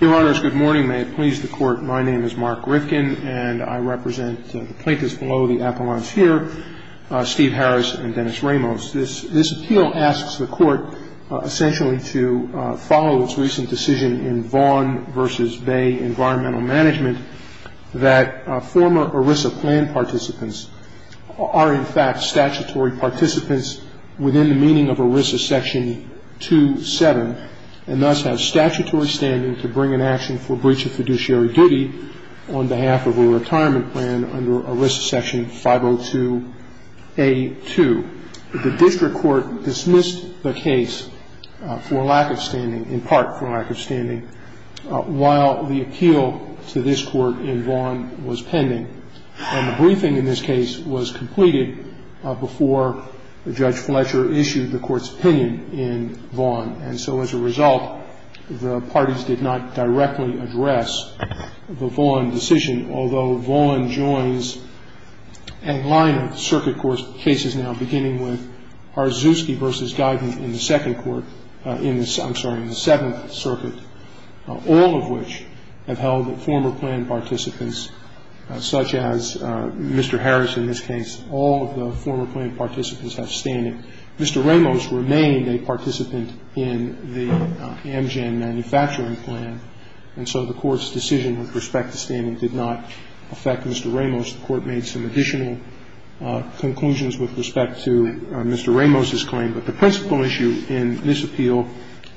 Your Honors, good morning. May it please the Court, my name is Mark Rifkin and I represent the plaintiffs below, the appellants here, Steve Harris and Dennis Ramos. This appeal asks the Court essentially to follow its recent decision in Vaughn v. Bay Environmental Management that former ERISA plan participants are in fact statutory participants within the meaning of ERISA section 2-7 and thus have statutory standing to bring an action for breach of fiduciary duty on behalf of a retirement plan under ERISA section 502A-2. The District Court dismissed the case for lack of standing, in part for lack of standing, while the appeal to this Court in Vaughn was pending. And the briefing in this case was completed before Judge Fletcher issued the Court's opinion in Vaughn. And so as a result, the parties did not directly address the Vaughn decision, although Vaughn joins a line of circuit court cases now, beginning with Harzuski v. Guyton in the Second Court, I'm sorry, in the Seventh Circuit, all of which have held former plan participants, such as Mr. Harris in this case, all of the former plan participants have standing. Mr. Ramos remained a participant in the Amgen Manufacturing Plan, and so the Court's decision with respect to standing did not affect Mr. Ramos. The Court made some additional conclusions with respect to Mr. Ramos's claim, but the principal issue in this appeal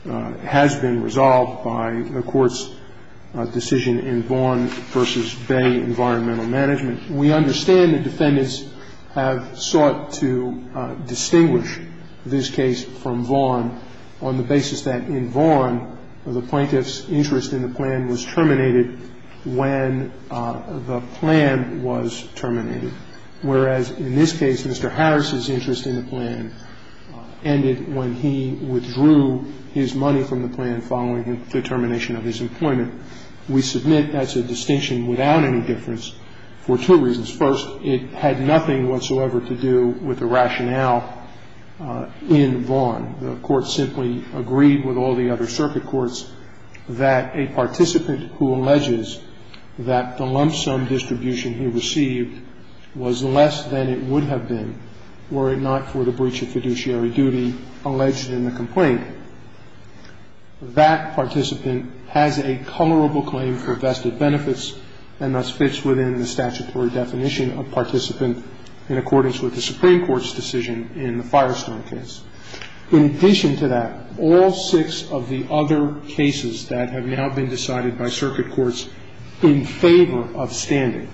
has been resolved by the Court's decision in Vaughn v. Bay Environmental Management. We understand the defendants have sought to distinguish this case from Vaughn on the basis that in Vaughn, the plaintiff's interest in the plan was terminated when the plan was terminated, whereas in this case, Mr. Harris's interest in the plan ended when he withdrew his money from the plan following the termination of his employment. We submit that's a distinction without any difference for two reasons. First, it had nothing whatsoever to do with the rationale in Vaughn. The Court simply agreed with all the other circuit courts that a participant who alleges that the lump sum distribution he received was less than it would have been were it not for the breach of fiduciary duty alleged in the complaint. That participant has a colorable claim for vested benefits and thus fits within the statutory definition of participant in accordance with the Supreme Court's decision in the Firestone case. In addition to that, all six of the other cases that have now been decided by circuit courts in favor of standing,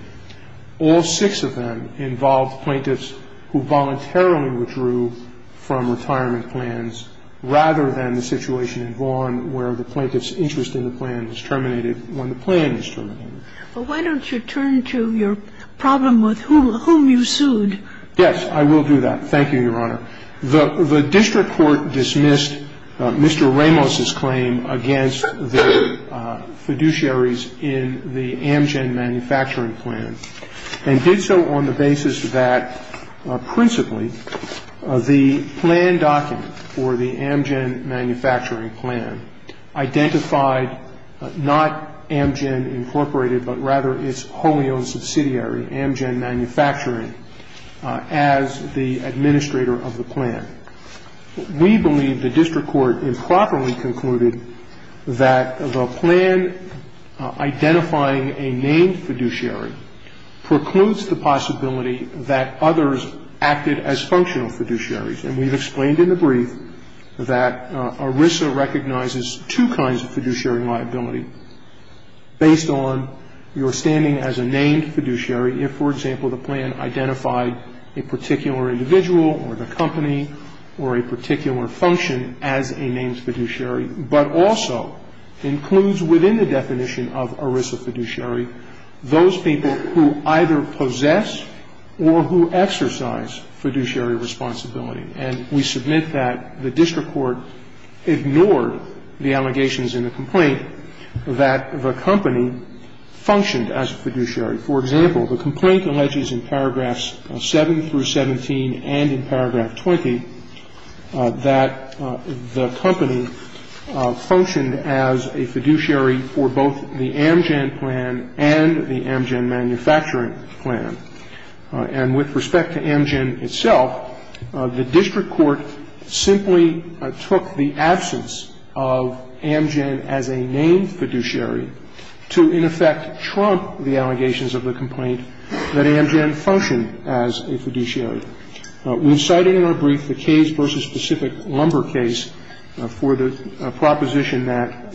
all six of them involved plaintiffs who voluntarily withdrew from retirement plans rather than the situation in Vaughn where the plaintiff's interest in the plan was terminated when the plan was terminated. But why don't you turn to your problem with whom you sued? Yes, I will do that. Thank you, Your Honor. The district court dismissed Mr. Ramos's claim against the fiduciaries in the Amgen manufacturing plan and did so on the basis that principally the plan document or the Amgen manufacturing plan identified not Amgen Incorporated but rather its wholly owned subsidiary, Amgen Manufacturing, as the administrator of the plan. We believe the district court improperly concluded that the plan identifying a named fiduciary precludes the possibility that others acted as functional fiduciaries. And we've explained in the brief that ERISA recognizes two kinds of fiduciary liability based on your standing as a named fiduciary if, for example, the plan identified a particular individual or the company or a particular function as a named fiduciary but also includes within the definition of ERISA fiduciary those people who either possess or who exercise fiduciary responsibility. And we submit that the district court ignored the allegations in the complaint that the company functioned as a fiduciary. For example, the complaint alleges in paragraphs 7 through 17 and in paragraph 20 that the company functioned as a fiduciary for both the Amgen plan and the Amgen manufacturing plan. And with respect to Amgen itself, the district court simply took the absence of Amgen as a named fiduciary to, in effect, trump the allegations of the complaint that Amgen functioned as a fiduciary. We've cited in our brief the case-versus-specific lumber case for the proposition that fiduciary capacity is not sufficient for the purpose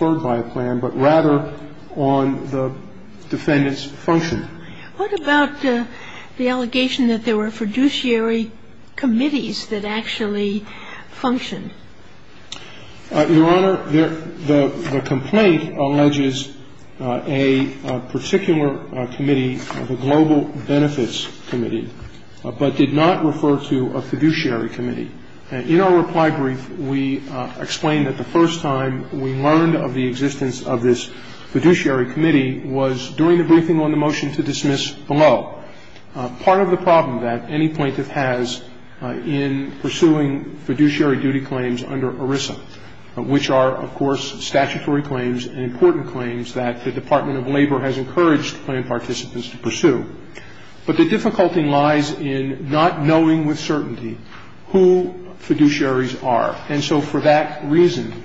of a plan, but rather on the defendant's function. What about the allegation that there were fiduciary committees that actually functioned? Your Honor, the complaint alleges a particular committee, the Global Benefits Committee, but did not refer to a fiduciary committee. In our reply brief, we explain that the first time we learned of the existence of this fiduciary committee was during the briefing on the motion to dismiss below. Part of the problem that any plaintiff has in pursuing fiduciary duty claims under ERISA, which are, of course, statutory claims and important claims that the Department of Labor has encouraged plan participants to pursue. But the difficulty lies in not knowing with certainty who fiduciaries are. And so for that reason,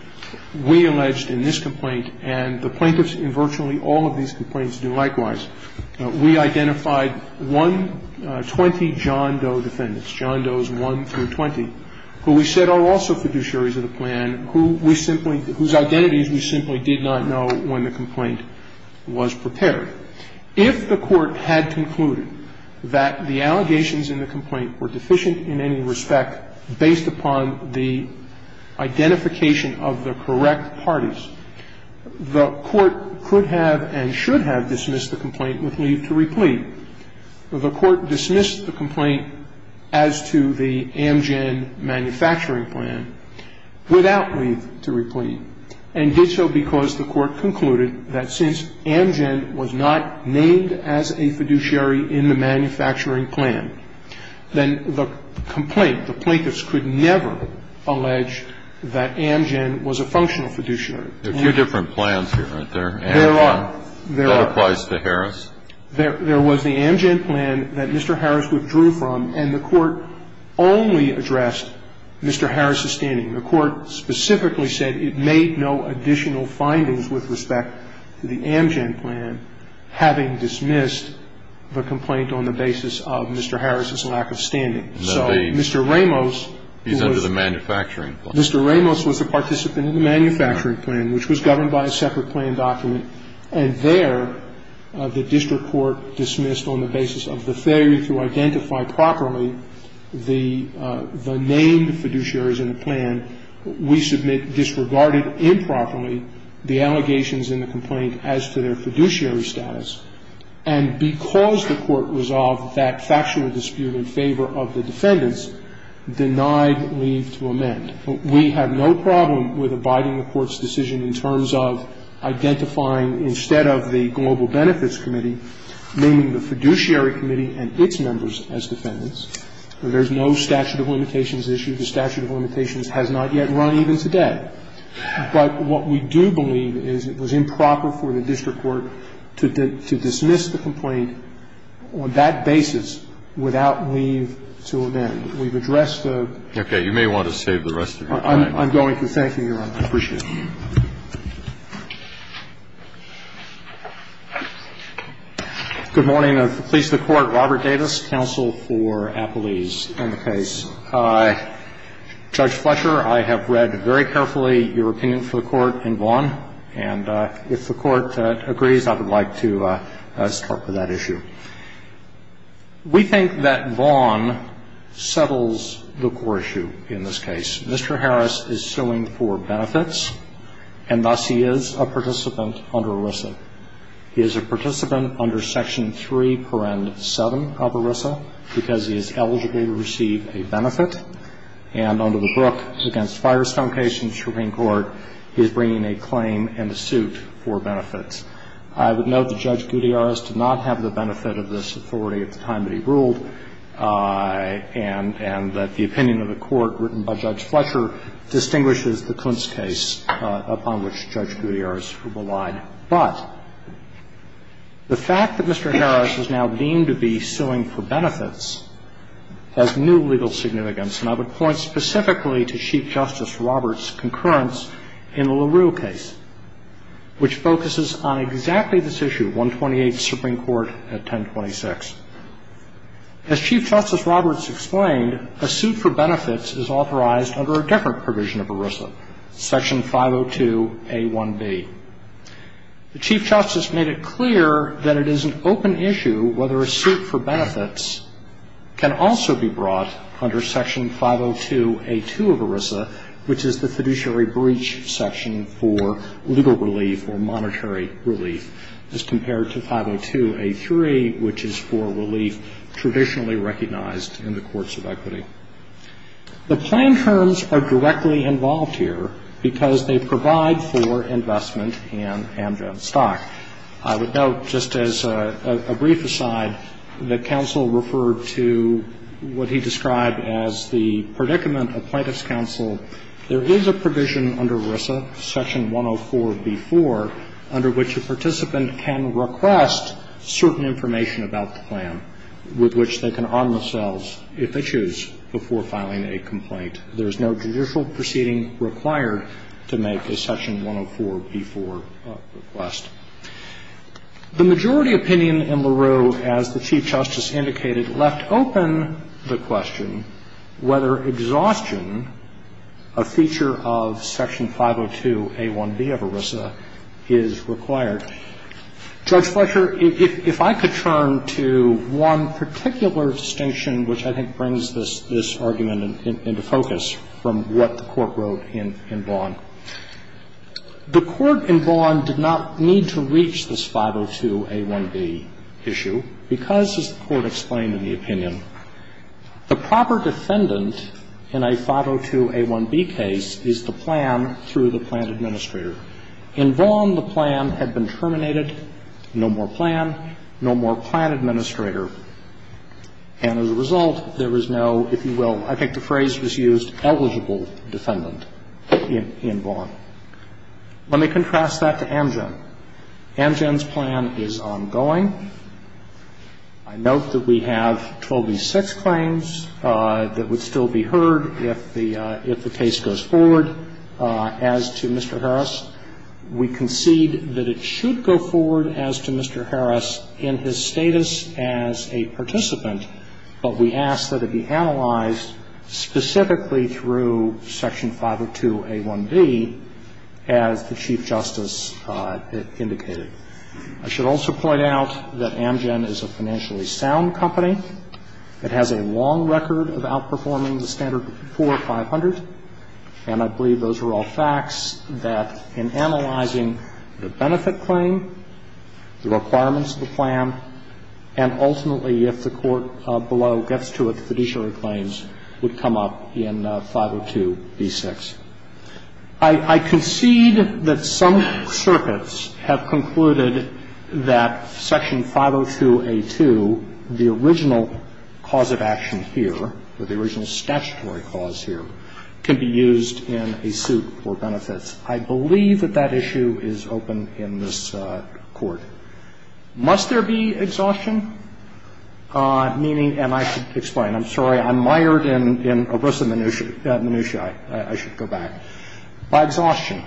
we alleged in this complaint, and the plaintiffs in virtually all of these complaints do likewise, we identified 120 John Doe defendants, John Does 1 through 20, who we said are also fiduciaries of the plan, who we simply – whose identities we simply did not know when the complaint was prepared. If the Court had concluded that the allegations in the complaint were deficient in any respect based upon the identification of the correct parties, the Court could have and should have dismissed the complaint with leave to replete. The Court dismissed the complaint as to the Amgen manufacturing plan without leave to replete, and did so because the Court concluded that since Amgen was not named as a fiduciary in the manufacturing plan, then the complaint, the plaintiffs could never allege that Amgen was a functional fiduciary. There are two different plans here, aren't there? There are. That applies to Harris. There was the Amgen plan that Mr. Harris withdrew from, and the Court only addressed Mr. Harris's standing. The Court specifically said it made no additional findings with respect to the Amgen plan, having dismissed the complaint on the basis of Mr. Harris's lack of standing. So Mr. Ramos, who was – He's under the manufacturing plan. Mr. Ramos was a participant in the manufacturing plan, which was governed by a separate plan document, and there the district court dismissed on the basis of the failure to identify properly the named fiduciaries in the plan, we submit disregarded improperly the allegations in the complaint as to their fiduciary status, and because the Court resolved that factual dispute in favor of the defendants, denied leave to amend. We have no problem with abiding the Court's decision in terms of identifying instead of the Global Benefits Committee naming the fiduciary committee and its members as defendants. There's no statute of limitations issue. The statute of limitations has not yet run even today. But what we do believe is it was improper for the district court to dismiss the complaint on that basis without leave to amend. We've addressed the – Okay. You may want to save the rest of your time. I'm going to. Thank you, Your Honor. I appreciate it. Good morning. Please, the Court. Robert Davis, counsel for Appelees and the case. Judge Fletcher, I have read very carefully your opinion for the Court in Vaughan, and if the Court agrees, I would like to start with that issue. We think that Vaughan settles the core issue in this case. Mr. Harris is suing for benefits. And thus, he is a participant under ERISA. He is a participant under Section 3, Paragraph 7 of ERISA because he is eligible to receive a benefit. And under the Brooke v. Firestone case in the Supreme Court, he is bringing a claim and a suit for benefits. I would note that Judge Gutiérrez did not have the benefit of this authority at the time that he ruled, and that the opinion of the Court written by Judge Fletcher distinguishes the Klintz case upon which Judge Gutiérrez relied. But the fact that Mr. Harris is now deemed to be suing for benefits has new legal significance. And I would point specifically to Chief Justice Roberts' concurrence in the LaRue case, which focuses on exactly this issue, 128th Supreme Court at 1026. As Chief Justice Roberts explained, a suit for benefits is authorized under a different provision of ERISA, Section 502a1b. The Chief Justice made it clear that it is an open issue whether a suit for benefits can also be brought under Section 502a2 of ERISA, which is the fiduciary breach section for legal relief or monetary relief, as compared to 502a3, which is for relief traditionally recognized in the courts of equity. The plain terms are directly involved here because they provide for investment in Amgen stock. I would note, just as a brief aside, that counsel referred to what he described as the predicament of Plaintiff's counsel. There is a provision under ERISA, Section 104b4, under which a participant can request certain information about the plan, with which they can arm themselves, if they choose, before filing a complaint. There is no judicial proceeding required to make a Section 104b4 request. The majority opinion in LARUE, as the Chief Justice indicated, left open the question whether exhaustion, a feature of Section 502a1b of ERISA, is required. Judge Fletcher, if I could turn to one particular distinction which I think brings this argument into focus from what the Court wrote in Vaughan. The Court in Vaughan did not need to reach this 502a1b issue because, as the Court explained in the opinion, the proper defendant in a 502a1b case is the plan through the plan administrator. In Vaughan, the plan had been terminated. No more plan. No more plan administrator. And as a result, there was no, if you will, I think the phrase was used, eligible defendant in Vaughan. Let me contrast that to Amgen. Amgen's plan is ongoing. I note that we have 12B6 claims that would still be heard if the case goes forward. As to Mr. Harris, we concede that it should go forward as to Mr. Harris in his status as a participant, but we ask that it be analyzed specifically through Section 502a1b, as the Chief Justice indicated. I should also point out that Amgen is a financially sound company. It has a long record of outperforming the Standard IV 500, and I believe those are all facts that, in analyzing the benefit claim, the requirements of the plan, and ultimately, if the Court below gets to it, the fiduciary claims would come up in 502b6. I concede that some circuits have concluded that Section 502a2, the original cause of action here, or the original statutory cause here, can be used in a suit for benefits. I believe that that issue is open in this Court. Must there be exhaustion? Meaning, and I should explain. I'm sorry. I'm mired in a ruse of minutia. I should go back. By exhaustion,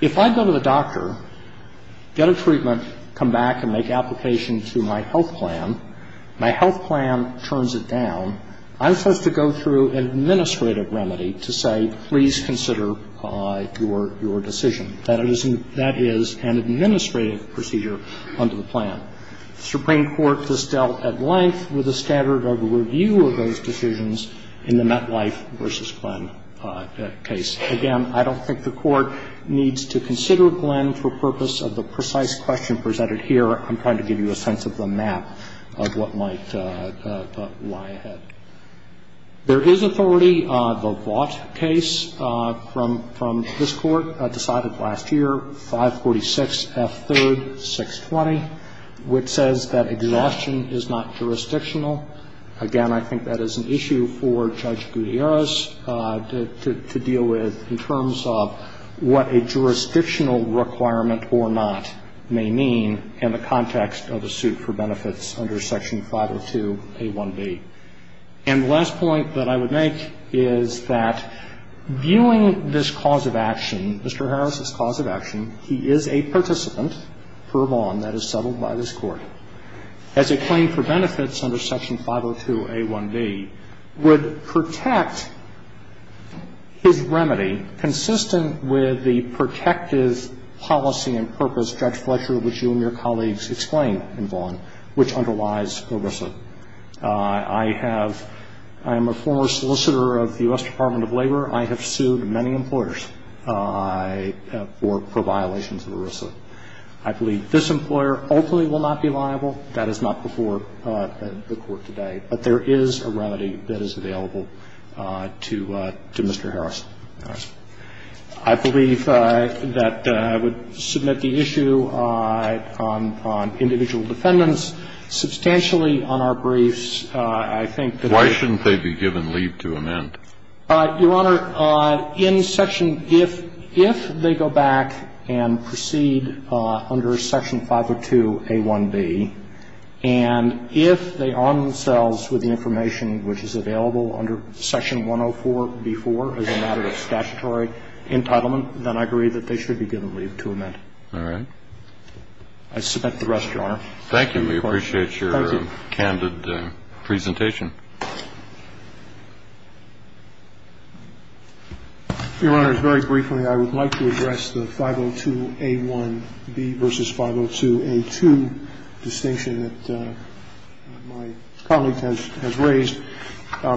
if I go to the doctor, get a treatment, come back and make application to my health plan, my health plan turns it down, I'm supposed to go through an administrative remedy to say, please consider your decision. That is an administrative procedure under the plan. The Supreme Court has dealt at length with the standard of review of those decisions in the MetLife v. Glenn case. Again, I don't think the Court needs to consider Glenn for purpose of the precise question presented here. I'm trying to give you a sense of the map of what might lie ahead. There is authority. The Vaught case from this Court decided last year, 546F3-620, which says that exhaustion is not jurisdictional. Again, I think that is an issue for Judge Gutierrez to deal with in terms of what a jurisdictional requirement or not may mean in the context of a suit for benefits under Section 502A1B. And the last point that I would make is that viewing this cause of action, Mr. Harris's cause of action, he is a participant for a bond that is settled by this Court. As a claim for benefits under Section 502A1B would protect his remedy consistent with the protective policy and purpose, Judge Fletcher, which you and your colleagues explain in Vaught, which underlies ERISA. I have ‑‑ I am a former solicitor of the U.S. Department of Labor. I have sued many employers for violations of ERISA. I believe this employer ultimately will not be liable. That is not before the Court today. But there is a remedy that is available to Mr. Harris. I believe that I would submit the issue on individual defendants. Substantially, on our briefs, I think that ‑‑ Why shouldn't they be given leave to amend? Your Honor, in Section ‑‑ if they go back and proceed under Section 502A1B, and if they arm themselves with the information which is available under Section 104B4 as a matter of statutory entitlement, then I agree that they should be given leave to amend. All right. I submit the rest, Your Honor. Thank you. We appreciate your candid presentation. Your Honor, very briefly, I would like to address the 502A1B v. 502A2 distinction that my colleague has raised.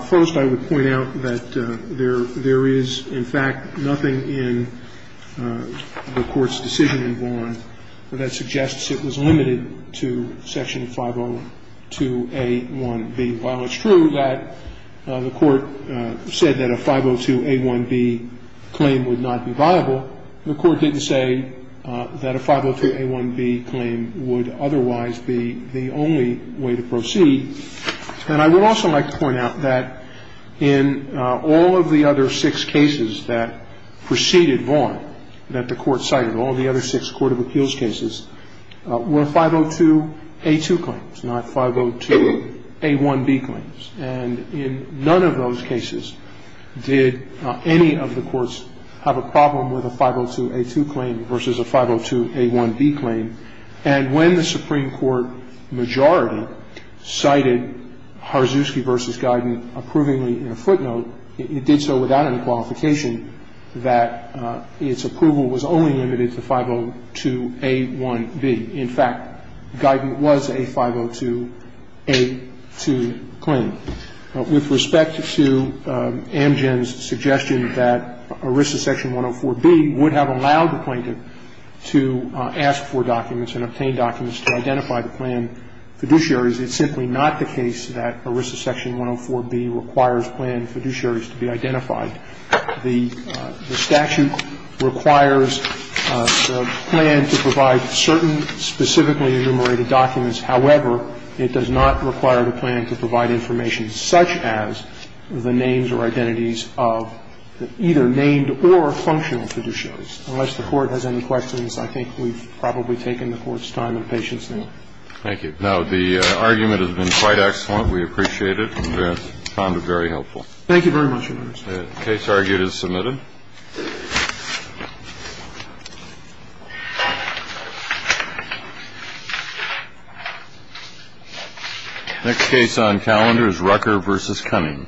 First, I would point out that there is, in fact, nothing in the Court's decision in Vaughan that suggests it was limited to Section 502A1B. While it's true that the Court said that a 502A1B claim would not be viable, the Court didn't say that a 502A1B claim would otherwise be the only way to proceed. And I would also like to point out that in all of the other six cases that preceded Vaughan that the Court cited, all the other six court of appeals cases, were 502A2 claims, not 502A1B claims. And in none of those cases did any of the courts have a problem with a 502A2 claim versus a 502A1B claim. And when the Supreme Court majority cited Harzuski v. Guyton approvingly in a footnote, it did so without any qualification that its approval was only limited to 502A1B. In fact, Guyton was a 502A2 claim. With respect to Amgen's suggestion that ERISA Section 104B would have allowed the plaintiffs to obtain documents and obtain documents to identify the planned fiduciaries, it's simply not the case that ERISA Section 104B requires planned fiduciaries to be identified. The statute requires the plan to provide certain specifically enumerated documents. However, it does not require the plan to provide information such as the names or identities of either named or functional fiduciaries. Unless the Court has any questions, I think we've probably taken the Court's time and patience now. Thank you. Now, the argument has been quite excellent. We appreciate it and found it very helpful. Thank you very much, Your Honor. The case argued is submitted. Next case on calendar is Rucker v. Cunning.